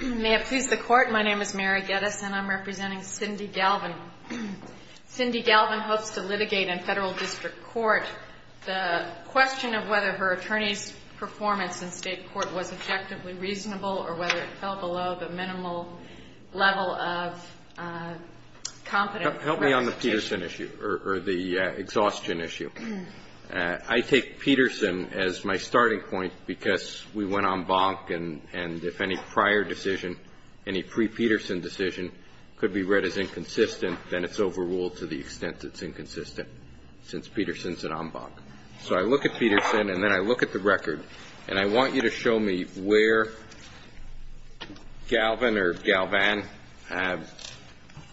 May I please the Court? My name is Mary Geddes and I'm representing Cindy Galvan. Cindy Galvan hopes to litigate in federal district court. The question of whether her attorney's performance in state court was objectively reasonable or whether it fell below the minimal level of confidence in her attorney's ability to do so is a very important question. Help me on the Peterson issue or the exhaustion issue. I take Peterson as my starting point because we went en banc and if any prior decision, any pre-Peterson decision could be read as inconsistent, then it's overruled to the extent it's inconsistent since Peterson's an en banc. So I look at Peterson and then I look at the record and I want you to show me where Galvan or Galvan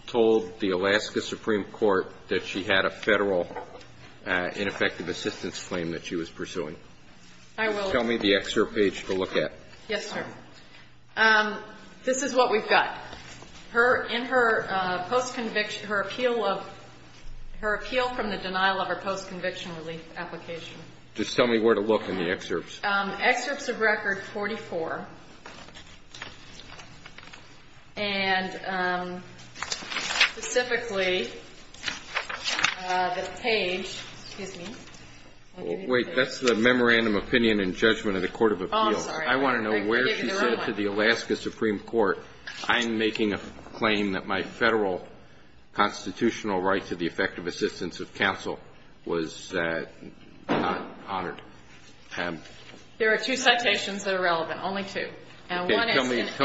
told the Alaska Supreme Court that she had a federal ineffective assistance claim that she was pursuing. Tell me the excerpt page to look at. Yes, sir. This is what we've got. In her post-conviction, her appeal of, her appeal from the denial of her post-conviction relief application. Just tell me where to look in the excerpts. Excerpts of record 44 and specifically the page, excuse me. Wait, that's the memorandum opinion and judgment of the court of appeals. I want to know where she said to the Alaska Supreme Court, I'm making a claim that my federal constitutional right to the effective assistance of counsel was not honored. There are two citations that are relevant, only two. Tell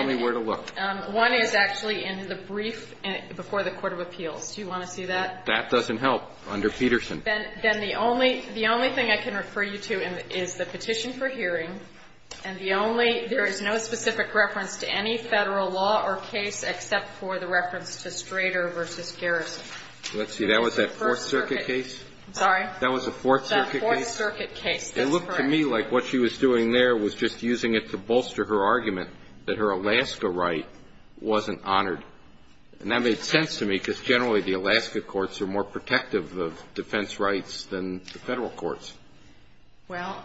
me where to look. One is actually in the brief before the court of appeals. Do you want to see that? That doesn't help under Peterson. Then the only, the only thing I can refer you to is the petition for hearing and the only, there is no specific reference to any federal law or case except for the reference to Strader v. Garrison. Let's see, that was that Fourth Circuit case? I'm sorry? That was the Fourth Circuit case? The Fourth Circuit case, that's correct. It looked to me like what she was doing there was just using it to bolster her argument that her Alaska right wasn't honored. And that made sense to me, because generally the Alaska courts are more protective of defense rights than the Federal courts. Well,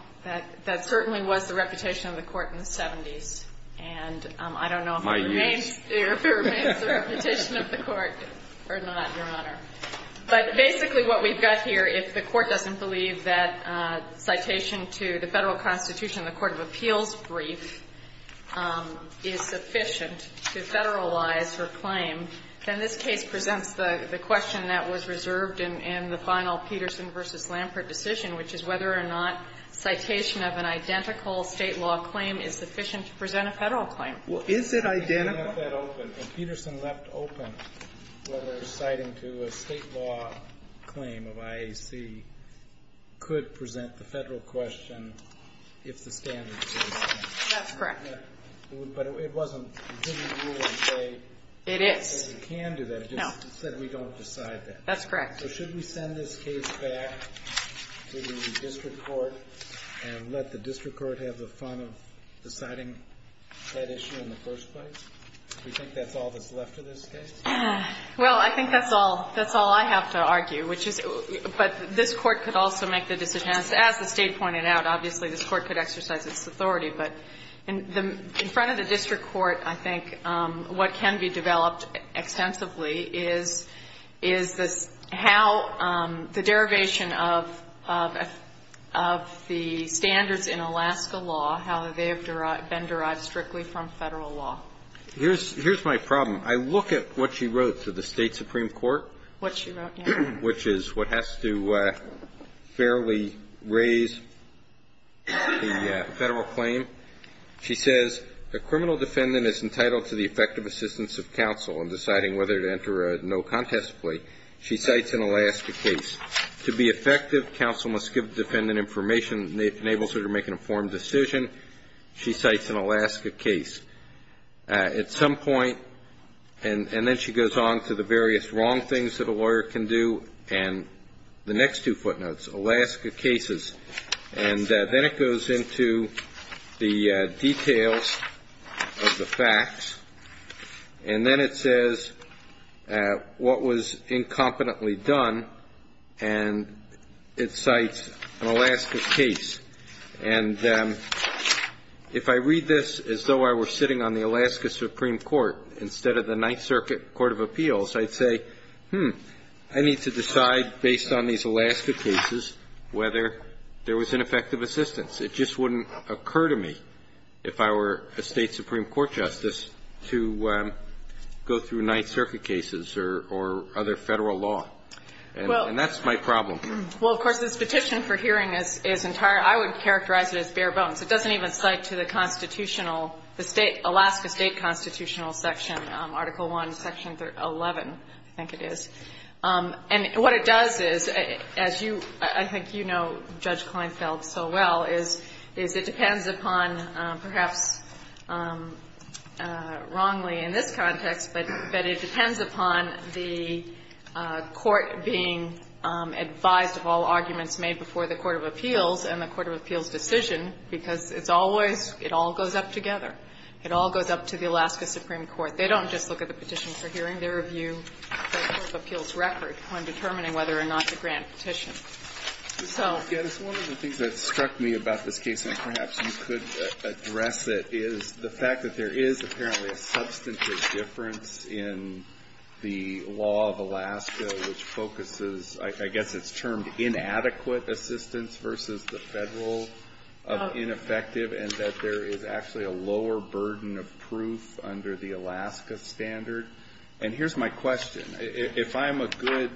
that certainly was the reputation of the court in the 70s, and I don't know if it remains there. My years. If it remains the reputation of the court or not, Your Honor. But basically what we've got here, if the court doesn't believe that citation to the Federal Constitution in the court of appeals brief is sufficient to federalize her claim, then this case presents the question that was reserved in the final Peterson v. Lampert decision, which is whether or not citation of an identical State law claim is sufficient to present a Federal claim. Well, is it identical? And Peterson left open whether citing to a State law claim of IAC could present the Federal question if the standards were the same. That's correct. But it wasn't. It is. It can do that. It's just that we don't decide that. That's correct. So should we send this case back to the district court and let the district court have the fun of deciding that issue in the first place? Do you think that's all that's left of this case? Well, I think that's all. That's all I have to argue. But this court could also make the decision. As the State pointed out, obviously this court could exercise its authority. But in front of the district court, I think what can be developed extensively is how the derivation of the standards in Alaska law, how they have been derived strictly from Federal law. Here's my problem. I look at what she wrote to the State Supreme Court. What she wrote, yes. Which is what has to fairly raise the Federal claim. She says, A criminal defendant is entitled to the effective assistance of counsel in deciding whether to enter a no-contest plea. She cites an Alaska case. To be effective, counsel must give the defendant information that enables her to make an informed decision. She cites an Alaska case. At some point, and then she goes on to the various wrong things that a lawyer can do. And the next two footnotes, Alaska cases. And then it goes into the details of the facts. And then it says what was incompetently done. And it cites an Alaska case. And if I read this as though I were sitting on the Alaska Supreme Court, instead of the Ninth Circuit Court of Appeals, I'd say, hmm, I need to decide based on these Alaska cases whether there was ineffective assistance. It just wouldn't occur to me, if I were a State Supreme Court justice, to go through Ninth Circuit cases or other Federal law. And that's my problem. Well, of course, this Petition for Hearing is entire. I would characterize it as bare bones. It doesn't even cite to the constitutional, the Alaska State Constitutional Section, Article I, Section 11, I think it is. And what it does is, as you, I think you know Judge Kleinfeld so well, is it depends upon, perhaps wrongly in this context, but it depends upon the court being advised of all arguments made before the Court of Appeals and the Court of Appeals' decision, because it's always, it all goes up together. It all goes up to the Alaska Supreme Court. They don't just look at the Petition for Hearing. They review the Court of Appeals' record when determining whether or not to grant a petition. So. Kennedy. One of the things that struck me about this case, and perhaps you could address it, is the fact that there is apparently a substantive difference in the law of Alaska which focuses, I guess it's termed inadequate assistance versus the federal of ineffective, and that there is actually a lower burden of proof under the Alaska standard. And here's my question. If I'm a good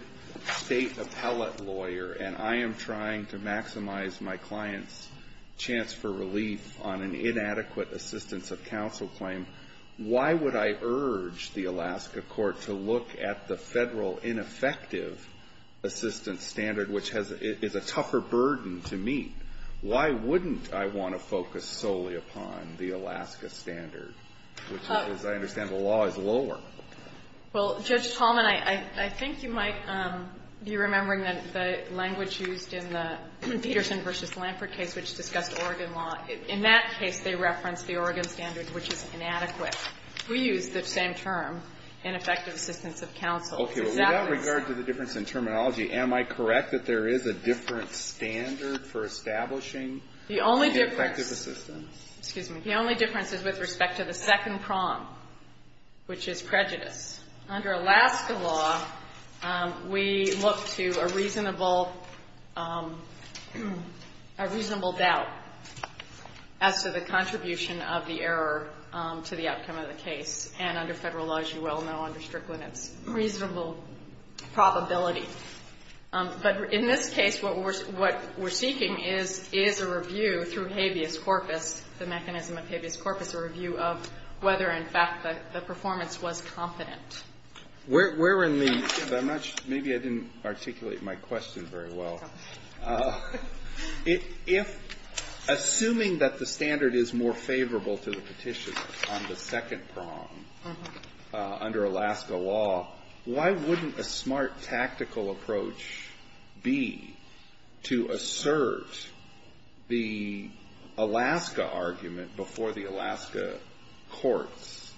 state appellate lawyer and I am trying to maximize my client's chance for relief on an inadequate assistance of counsel claim, why would I urge the Alaska court to look at the federal ineffective assistance standard, which is a tougher burden to meet? Why wouldn't I want to focus solely upon the Alaska standard, which, as I understand the law, is lower? Well, Judge Tallman, I think you might be remembering that the language used in the Peterson v. Lampert case which discussed Oregon law, in that case they referenced the Oregon standard, which is inadequate. We use the same term, ineffective assistance of counsel. Exactly. Okay. Without regard to the difference in terminology, am I correct that there is a different standard for establishing ineffective assistance? The only difference is with respect to the second prong, which is prejudice. Under Alaska law, we look to a reasonable doubt as to the contribution of the error to the outcome of the case. And under Federal law, as you well know, under Strickland, it's reasonable probability. But in this case, what we're seeking is a review through habeas corpus, the mechanism of habeas corpus, a review of whether, in fact, the performance was competent. Where in the ---- I'm not sure. Maybe I didn't articulate my question very well. If assuming that the standard is more favorable to the petitioner on the second prong under Alaska law, why wouldn't a smart tactical approach be to assert the Alaska argument before the Alaska courts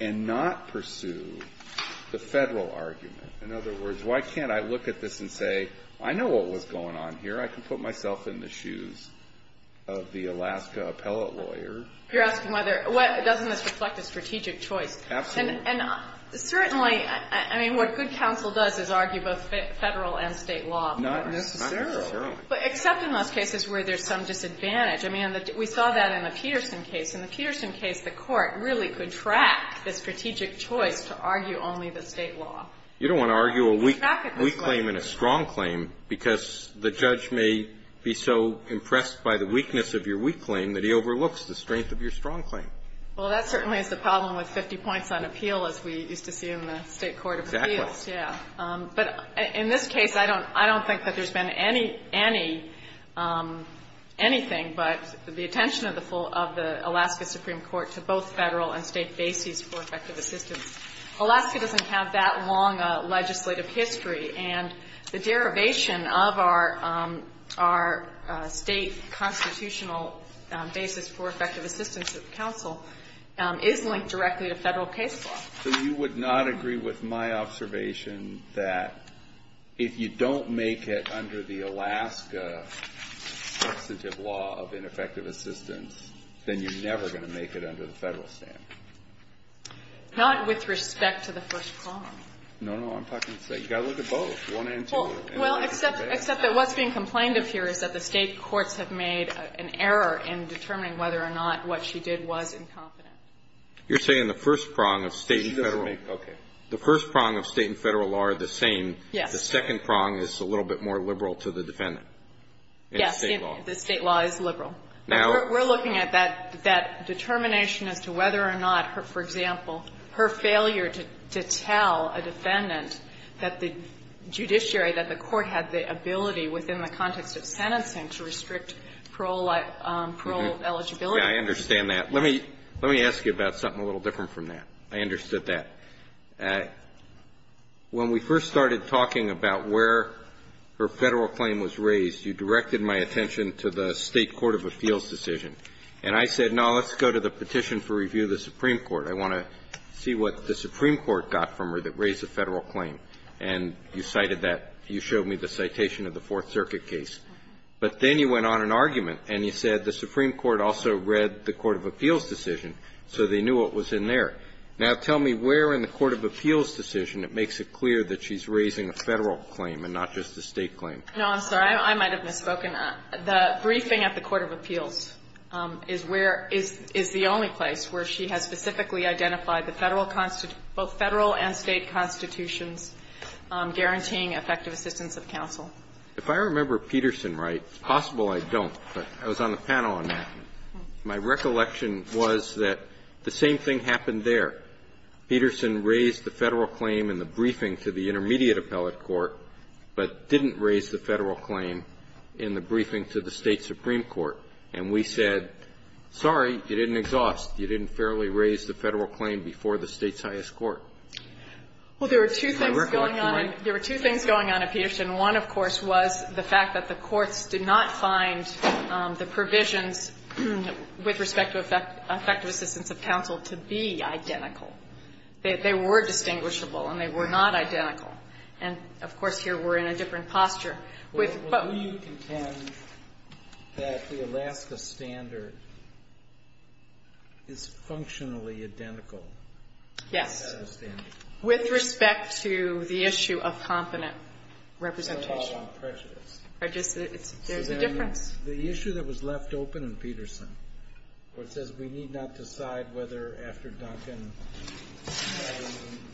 and not pursue the Federal argument? In other words, why can't I look at this and say, I know what was going on here. I can put myself in the shoes of the Alaska appellate lawyer. You're asking whether, doesn't this reflect a strategic choice? Absolutely. And certainly, I mean, what good counsel does is argue both Federal and State law. Not necessarily. Not necessarily. Except in those cases where there's some disadvantage. I mean, we saw that in the Peterson case. In the Peterson case, the court really could track the strategic choice to argue only the State law. You don't want to argue a weak claim and a strong claim because the judge may be so impressed by the weakness of your weak claim that he overlooks the strength of your strong claim. Well, that certainly is the problem with 50 points on appeal, as we used to see in the State court of appeals. Exactly. Yeah. But in this case, I don't think that there's been any, any, anything but the attention of the Alaska Supreme Court to both Federal and State bases for effective assistance. Alaska doesn't have that long a legislative history. And the derivation of our, our State constitutional basis for effective assistance of counsel is linked directly to Federal case law. So you would not agree with my observation that if you don't make it under the Alaska substantive law of ineffective assistance, then you're never going to make it under the Federal standard? Not with respect to the first prong. No, no. I'm talking to the State. You've got to look at both, one and two. Well, except, except that what's being complained of here is that the State courts have made an error in determining whether or not what she did was incompetent. You're saying the first prong of State and Federal. Okay. The first prong of State and Federal are the same. Yes. The second prong is a little bit more liberal to the defendant. Yes. The State law. The State law is liberal. Now we're looking at that determination as to whether or not, for example, her failure to tell a defendant that the judiciary, that the court had the ability within the context of sentencing to restrict parole eligibility. Yeah, I understand that. Let me, let me ask you about something a little different from that. I understood that. When we first started talking about where her Federal claim was raised, you directed my attention to the State court of appeals decision. And I said, no, let's go to the petition for review of the Supreme Court. I want to see what the Supreme Court got from her that raised the Federal claim. And you cited that. You showed me the citation of the Fourth Circuit case. But then you went on an argument and you said the Supreme Court also read the court of appeals decision, so they knew what was in there. Now, tell me where in the court of appeals decision it makes it clear that she's raising a Federal claim and not just a State claim. No, I'm sorry. I might have misspoken. The briefing at the court of appeals is where, is the only place where she has specifically identified the Federal, both Federal and State constitutions guaranteeing effective assistance of counsel. If I remember Peterson right, it's possible I don't, but I was on the panel on that. My recollection was that the same thing happened there. Peterson raised the Federal claim in the briefing to the intermediate appellate Supreme Court, but didn't raise the Federal claim in the briefing to the State Supreme Court. And we said, sorry, you didn't exhaust. You didn't fairly raise the Federal claim before the State's highest court. Can I recollect right? Well, there were two things going on. There were two things going on at Peterson. One, of course, was the fact that the courts did not find the provisions with respect to effective assistance of counsel to be identical. They were distinguishable and they were not identical. And, of course, here we're in a different posture. With, but. Do you contend that the Alaska standard is functionally identical? Yes. With respect to the issue of competent representation. There's a difference. The issue that was left open in Peterson, where it says we need not decide whether after Duncan, a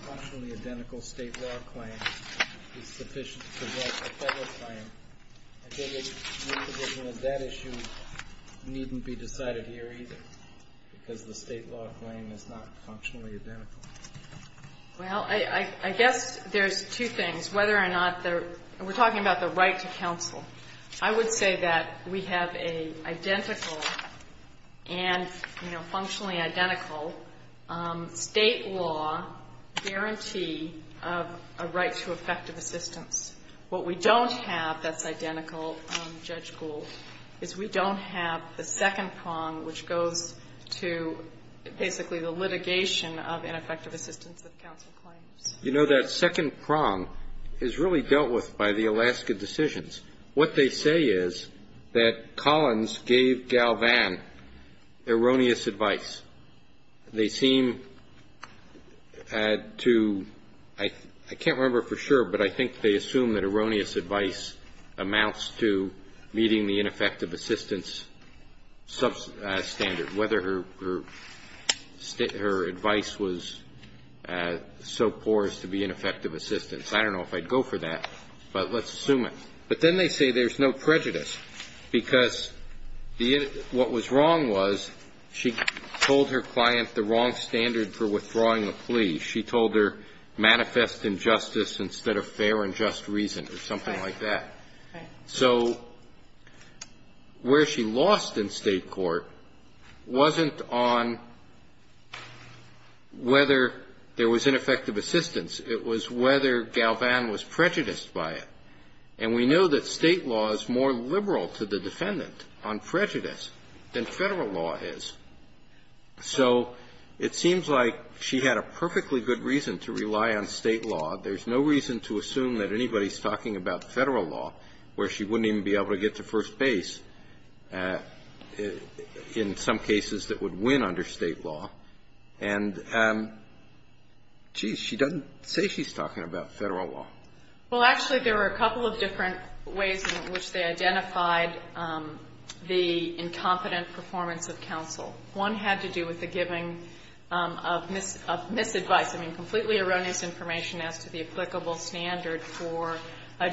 functionally identical State law claim is sufficient to protect a Federal claim. I think the provision of that issue needn't be decided here either, because the State law claim is not functionally identical. Well, I guess there's two things. Whether or not there, we're talking about the right to counsel. I would say that we have an identical and, you know, functionally identical State law guarantee of a right to effective assistance. What we don't have that's identical, Judge Gould, is we don't have the second prong, which goes to basically the litigation of ineffective assistance of counsel claims. You know, that second prong is really dealt with by the Alaska decisions. What they say is that Collins gave Galvan erroneous advice. They seem to, I can't remember for sure, but I think they assume that erroneous advice amounts to meeting the ineffective assistance standard, whether her advice was so poor as to be ineffective assistance. I don't know if I'd go for that, but let's assume it. But then they say there's no prejudice, because what was wrong was she told her client the wrong standard for withdrawing a plea. She told her manifest injustice instead of fair and just reason or something like that. So where she lost in State court wasn't on whether there was ineffective assistance. It was whether Galvan was prejudiced by it. And we know that State law is more liberal to the defendant on prejudice than Federal law is. So it seems like she had a perfectly good reason to rely on State law. There's no reason to assume that anybody's talking about Federal law where she wouldn't even be able to get to first base, in some cases, that would win under State law. And, geez, she doesn't say she's talking about Federal law. Well, actually, there were a couple of different ways in which they identified the incompetent performance of counsel. One had to do with the giving of misadvice. I mean, completely erroneous information as to the applicable standard for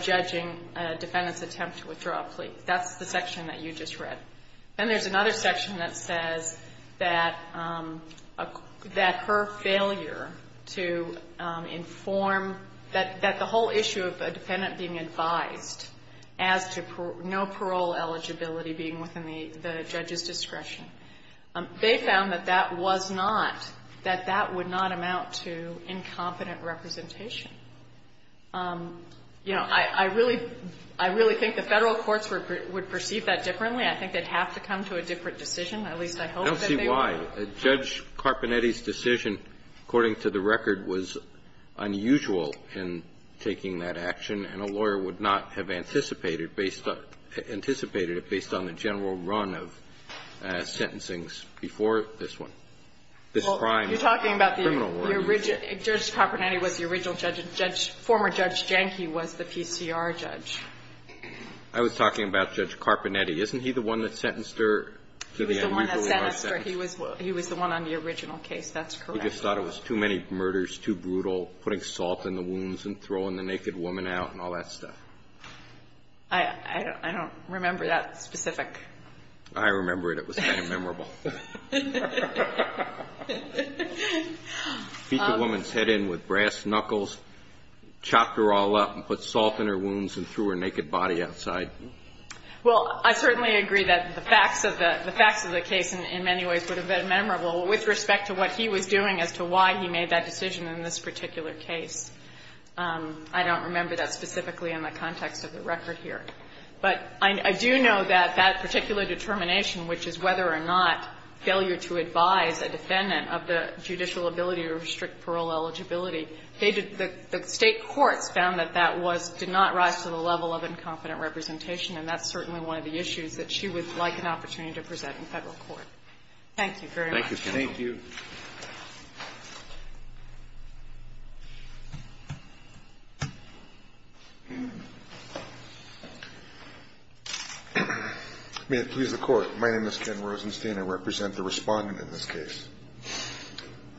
judging a defendant's attempt to withdraw a plea. That's the section that you just read. Then there's another section that says that her failure to inform, that the whole issue of a defendant being advised as to no parole eligibility being within the judge's discretion, they found that that was not, that that would not amount to, you know, to incompetent representation. You know, I really think the Federal courts would perceive that differently. I think they'd have to come to a different decision. At least I hope that they would. Kennedy, I don't see why. Judge Carpinetti's decision, according to the record, was unusual in taking that action. And a lawyer would not have anticipated based on the general run of sentencings before this one, this prime criminal lawyer. Judge Carpinetti was the original judge. Former Judge Janke was the PCR judge. I was talking about Judge Carpinetti. Isn't he the one that sentenced her to the unusually large sentence? He was the one that sentenced her. He was the one on the original case. That's correct. He just thought it was too many murders, too brutal, putting salt in the wounds and throwing the naked woman out and all that stuff. I don't remember that specific. I remember it. It was kind of memorable. Feet the woman's head in with brass knuckles, chopped her all up and put salt in her wounds and threw her naked body outside. Well, I certainly agree that the facts of the case in many ways would have been memorable with respect to what he was doing as to why he made that decision in this particular case. I don't remember that specifically in the context of the record here. But I do know that that particular determination, which is whether or not failure to advise a defendant of the judicial ability to restrict parole eligibility, the State courts found that that did not rise to the level of incompetent representation, and that's certainly one of the issues that she would like an opportunity to present in Federal court. Thank you very much. Thank you. May it please the Court. My name is Ken Rosenstein. I represent the Respondent in this case.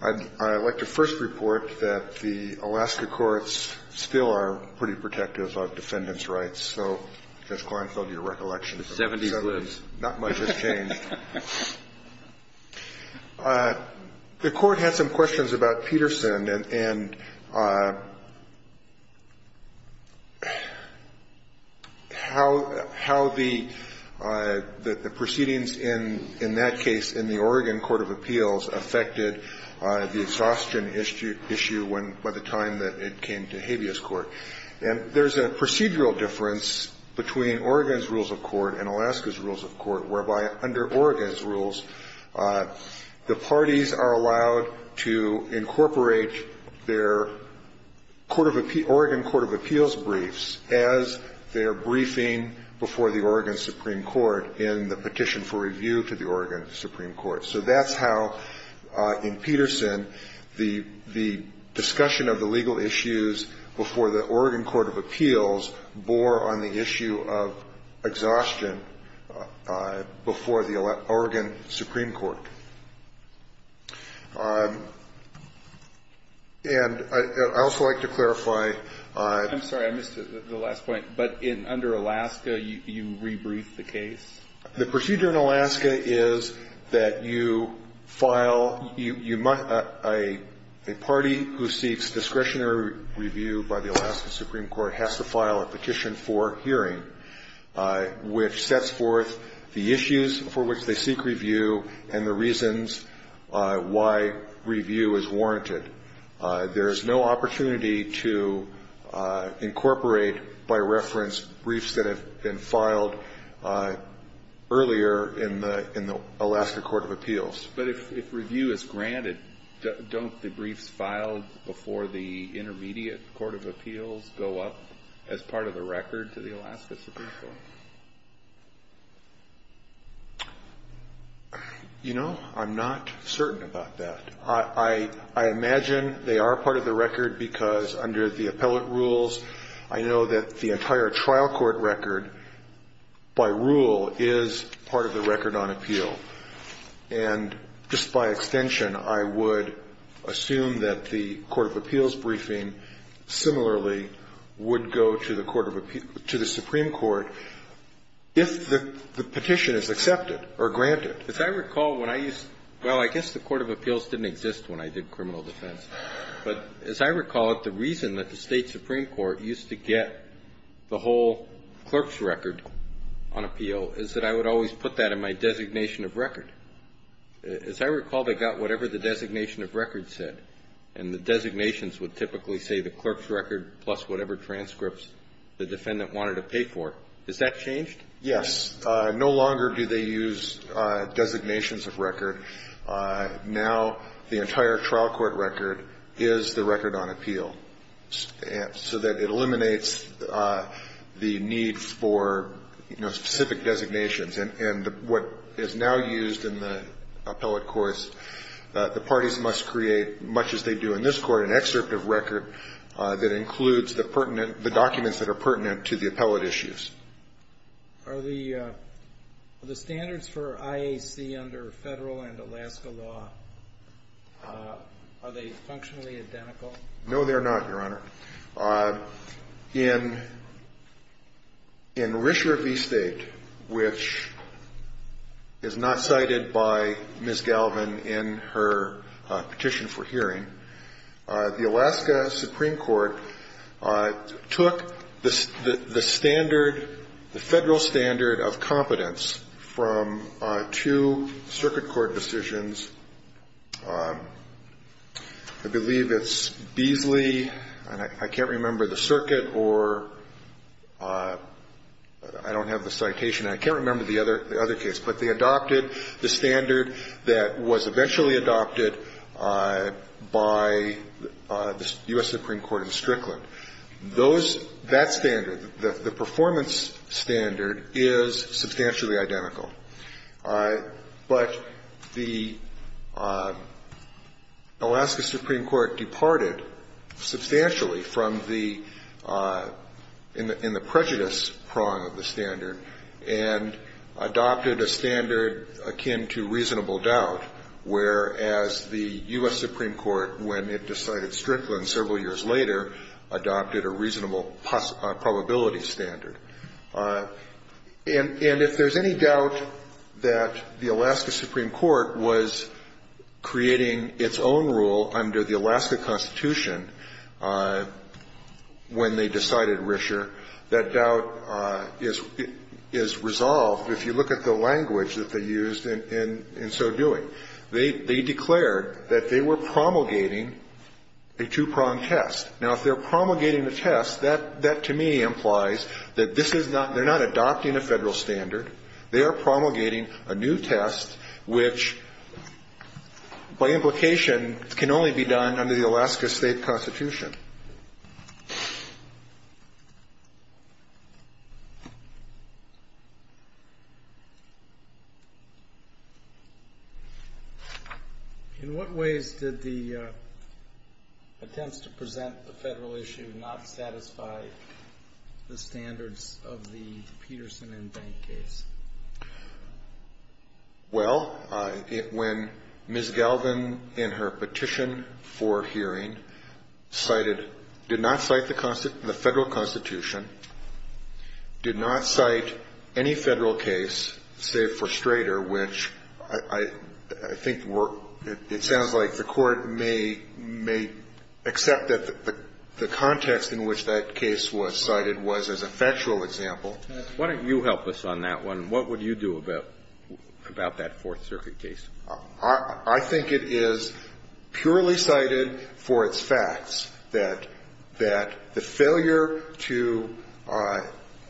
I'd like to first report that the Alaska courts still are pretty protective of defendants' rights. So, Judge Kleinfeld, your recollection of the 70s, not much has changed. The Court had some questions about Peterson and how the proceedings in that case in the Oregon Court of Appeals affected the exhaustion issue when, by the time that it came to Habeas Court. And there's a procedural difference between Oregon's rules of court and Alaska's rules. The parties are allowed to incorporate their Oregon Court of Appeals briefs as their briefing before the Oregon Supreme Court in the petition for review to the Oregon Supreme Court. So that's how, in Peterson, the discussion of the legal issues before the Oregon Court of Appeals bore on the issue of exhaustion before the Alaska Supreme Court and the Oregon Supreme Court. And I'd also like to clarify. I'm sorry. I missed the last point. But under Alaska, you rebrief the case? The procedure in Alaska is that you file a party who seeks discretionary review by the Alaska Supreme Court has to file a petition for hearing, which sets forth the reasons they seek review and the reasons why review is warranted. There is no opportunity to incorporate, by reference, briefs that have been filed earlier in the Alaska Court of Appeals. But if review is granted, don't the briefs filed before the intermediate court of appeals go up as part of the record to the Alaska Supreme Court? You know, I'm not certain about that. I imagine they are part of the record because under the appellate rules, I know that the entire trial court record, by rule, is part of the record on appeal. And just by extension, I would assume that the court of appeals briefing similarly would go to the Supreme Court if the petition is accepted or granted. As I recall, when I used to – well, I guess the court of appeals didn't exist when I did criminal defense. But as I recall it, the reason that the State Supreme Court used to get the whole clerk's record on appeal is that I would always put that in my designation of record. As I recall, they got whatever the designation of record said. And the designations would typically say the clerk's record plus whatever transcripts the defendant wanted to pay for. Has that changed? Yes. No longer do they use designations of record. Now the entire trial court record is the record on appeal so that it eliminates the need for, you know, specific designations. And what is now used in the appellate course, the parties must create, much as they do in this court, an excerpt of record that includes the pertinent – the documents that are pertinent to the appellate issues. Are the standards for IAC under Federal and Alaska law, are they functionally identical? No, they're not, Your Honor. In Rischer v. State, which is not cited by Ms. Galvin in her petition for hearing, the Alaska Supreme Court took the standard, the Federal standard of competence from two circuit court decisions. I believe it's Beasley, and I can't remember the circuit, or I don't have the citation, and I can't remember the other case. But they adopted the standard that was eventually adopted by the U.S. Supreme Court in Strickland. Those – that standard, the performance standard, is substantially identical. But the Alaska Supreme Court departed substantially from the – in the prejudice prong of the standard and adopted a standard akin to reasonable doubt, whereas the U.S. Supreme Court, when it decided Strickland several years later, adopted a reasonable probability standard. And if there's any doubt that the Alaska Supreme Court was creating its own rule under the Alaska Constitution when they decided Rischer, that doubt is resolved if you look at the language that they used in so doing. They declared that they were promulgating a two-prong test. Now, if they're promulgating a test, that to me implies that this is not – they're not adopting a Federal standard. They are promulgating a new test which, by implication, can only be done under the Alaska State Constitution. Thank you. In what ways did the attempts to present the Federal issue not satisfy the standards of the Peterson and Bank case? Well, when Ms. Galvin, in her petition for hearing, cited – did not cite the Federal Constitution, did not cite any Federal case save for Strater, which I think it sounds like the Court may accept that the context in which that case was cited was as a factual example. Why don't you help us on that one? What would you do about that Fourth Circuit case? I think it is purely cited for its facts that the failure to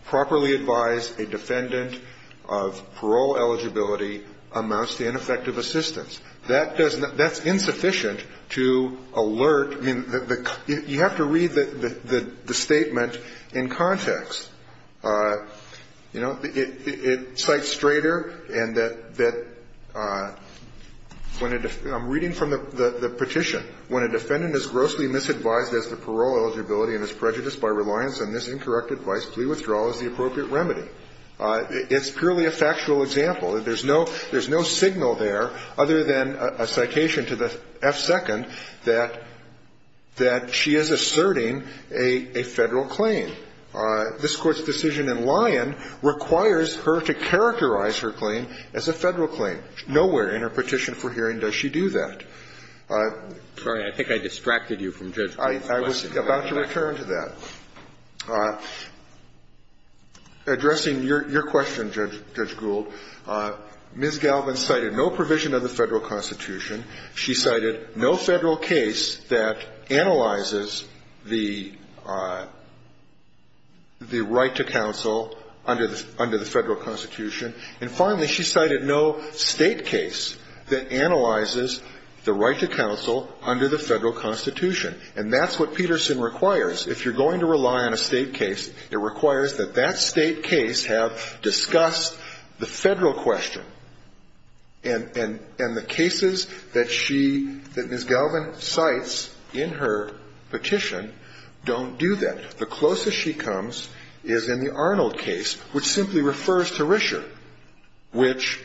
properly advise a defendant of parole eligibility amounts to ineffective assistance. That's insufficient to alert – I mean, you have to read the statement in context. You know, it cites Strater and that when a – I'm reading from the petition. When a defendant is grossly misadvised as to parole eligibility and is prejudiced by reliance on this incorrect advice, plea withdrawal is the appropriate remedy. It's purely a factual example. There's no signal there other than a citation to the F-Second that she is asserting a Federal claim. This Court's decision in Lyon requires her to characterize her claim as a Federal claim. Nowhere in her petition for hearing does she do that. I think I distracted you from Judge Gould's question. I was about to return to that. Addressing your question, Judge Gould, Ms. Galvin cited no provision of the Federal Constitution. She cited no Federal case that analyzes the right to counsel under the Federal Constitution. And finally, she cited no State case that analyzes the right to counsel under the Federal Constitution. And that's what Peterson requires. If you're going to rely on a State case, it requires that that State case have discussed the Federal question. And the cases that she, that Ms. Galvin cites in her petition don't do that. The closest she comes is in the Arnold case, which simply refers to Rischer, which,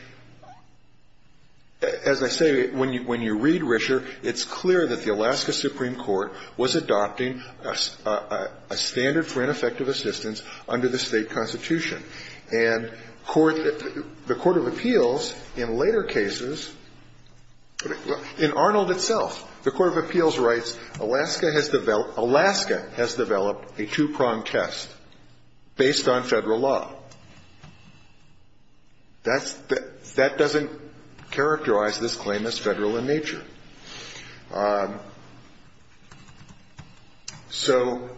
as I say, when you read Rischer, it's clear that the Alaska Supreme Court was adopting a standard for ineffective assistance under the State Constitution. And the court of appeals in later cases, in Arnold itself, the court of appeals writes, Alaska has developed a two-pronged test based on Federal law. That doesn't characterize this claim as Federal in nature. So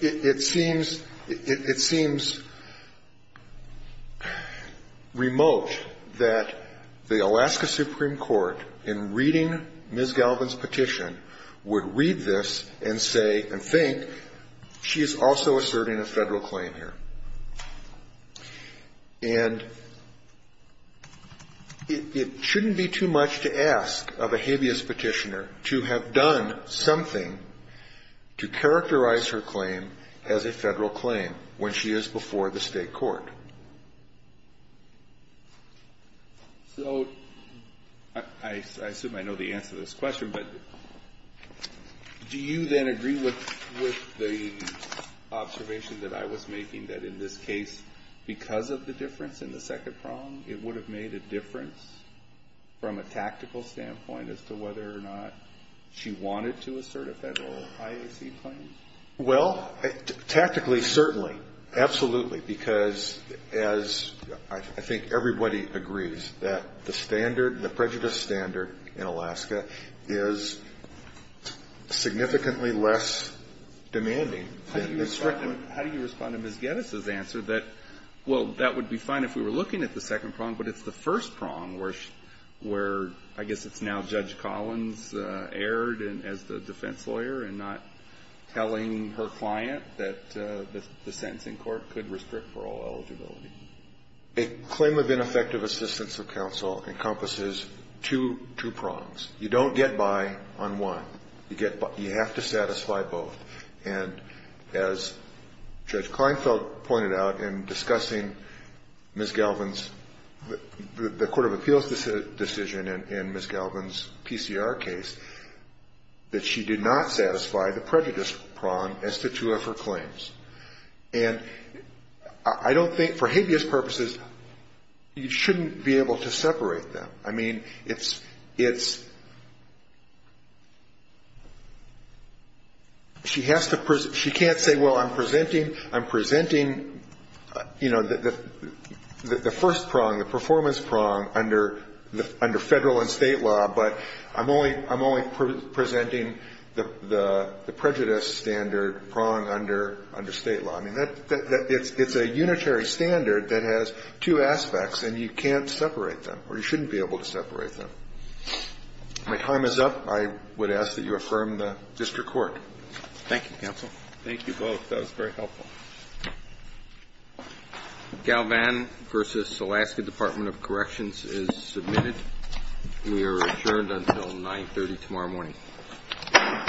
it seems, it seems remote that the Alaska Supreme Court, in reading Ms. Galvin's petition, would read this and say, and think, she is also asserting a Federal claim here. And it shouldn't be too much to ask of a habeas petitioner to have done something to characterize her claim as a Federal claim when she is before the State court. Kennedy. So I assume I know the answer to this question, but do you then agree with the observation that I was making that in this case, because of the difference in the second prong, it would have made a difference from a tactical standpoint as to whether or not she wanted to assert a Federal IAC claim? Well, tactically, certainly. Absolutely. Because as I think everybody agrees, that the standard, the prejudice standard in Alaska is significantly less demanding. How do you respond to Ms. Geddes' answer that, well, that would be fine if we were looking at the second prong, but it's the first prong where I guess it's now Judge Collins erred as the defense lawyer in not telling her client that the sentencing court could restrict parole eligibility? A claim of ineffective assistance of counsel encompasses two prongs. You don't get by on one. You have to satisfy both. And as Judge Kleinfeld pointed out in discussing Ms. Galvin's, the court of appeals decision in Ms. Galvin's PCR case, that she did not satisfy the prejudice prong as to two of her claims. And I don't think, for habeas purposes, you shouldn't be able to separate them. I mean, it's, it's, she has to, she can't say, well, I'm presenting, I'm presenting, you know, the first prong, the performance prong under, under Federal and State law, but I'm only, I'm only presenting the, the prejudice standard prong under, under State law. I mean, that, that, that, it's, it's a unitary standard that has two aspects, and you can't separate them, or you shouldn't be able to separate them. My time is up. I would ask that you affirm the district court. Thank you, counsel. Thank you both. That was very helpful. Galvin v. Alaska Department of Corrections is submitted. We are adjourned until 930 tomorrow morning. All rise. The court for the second stand is adjourned. Thank you. Thank you.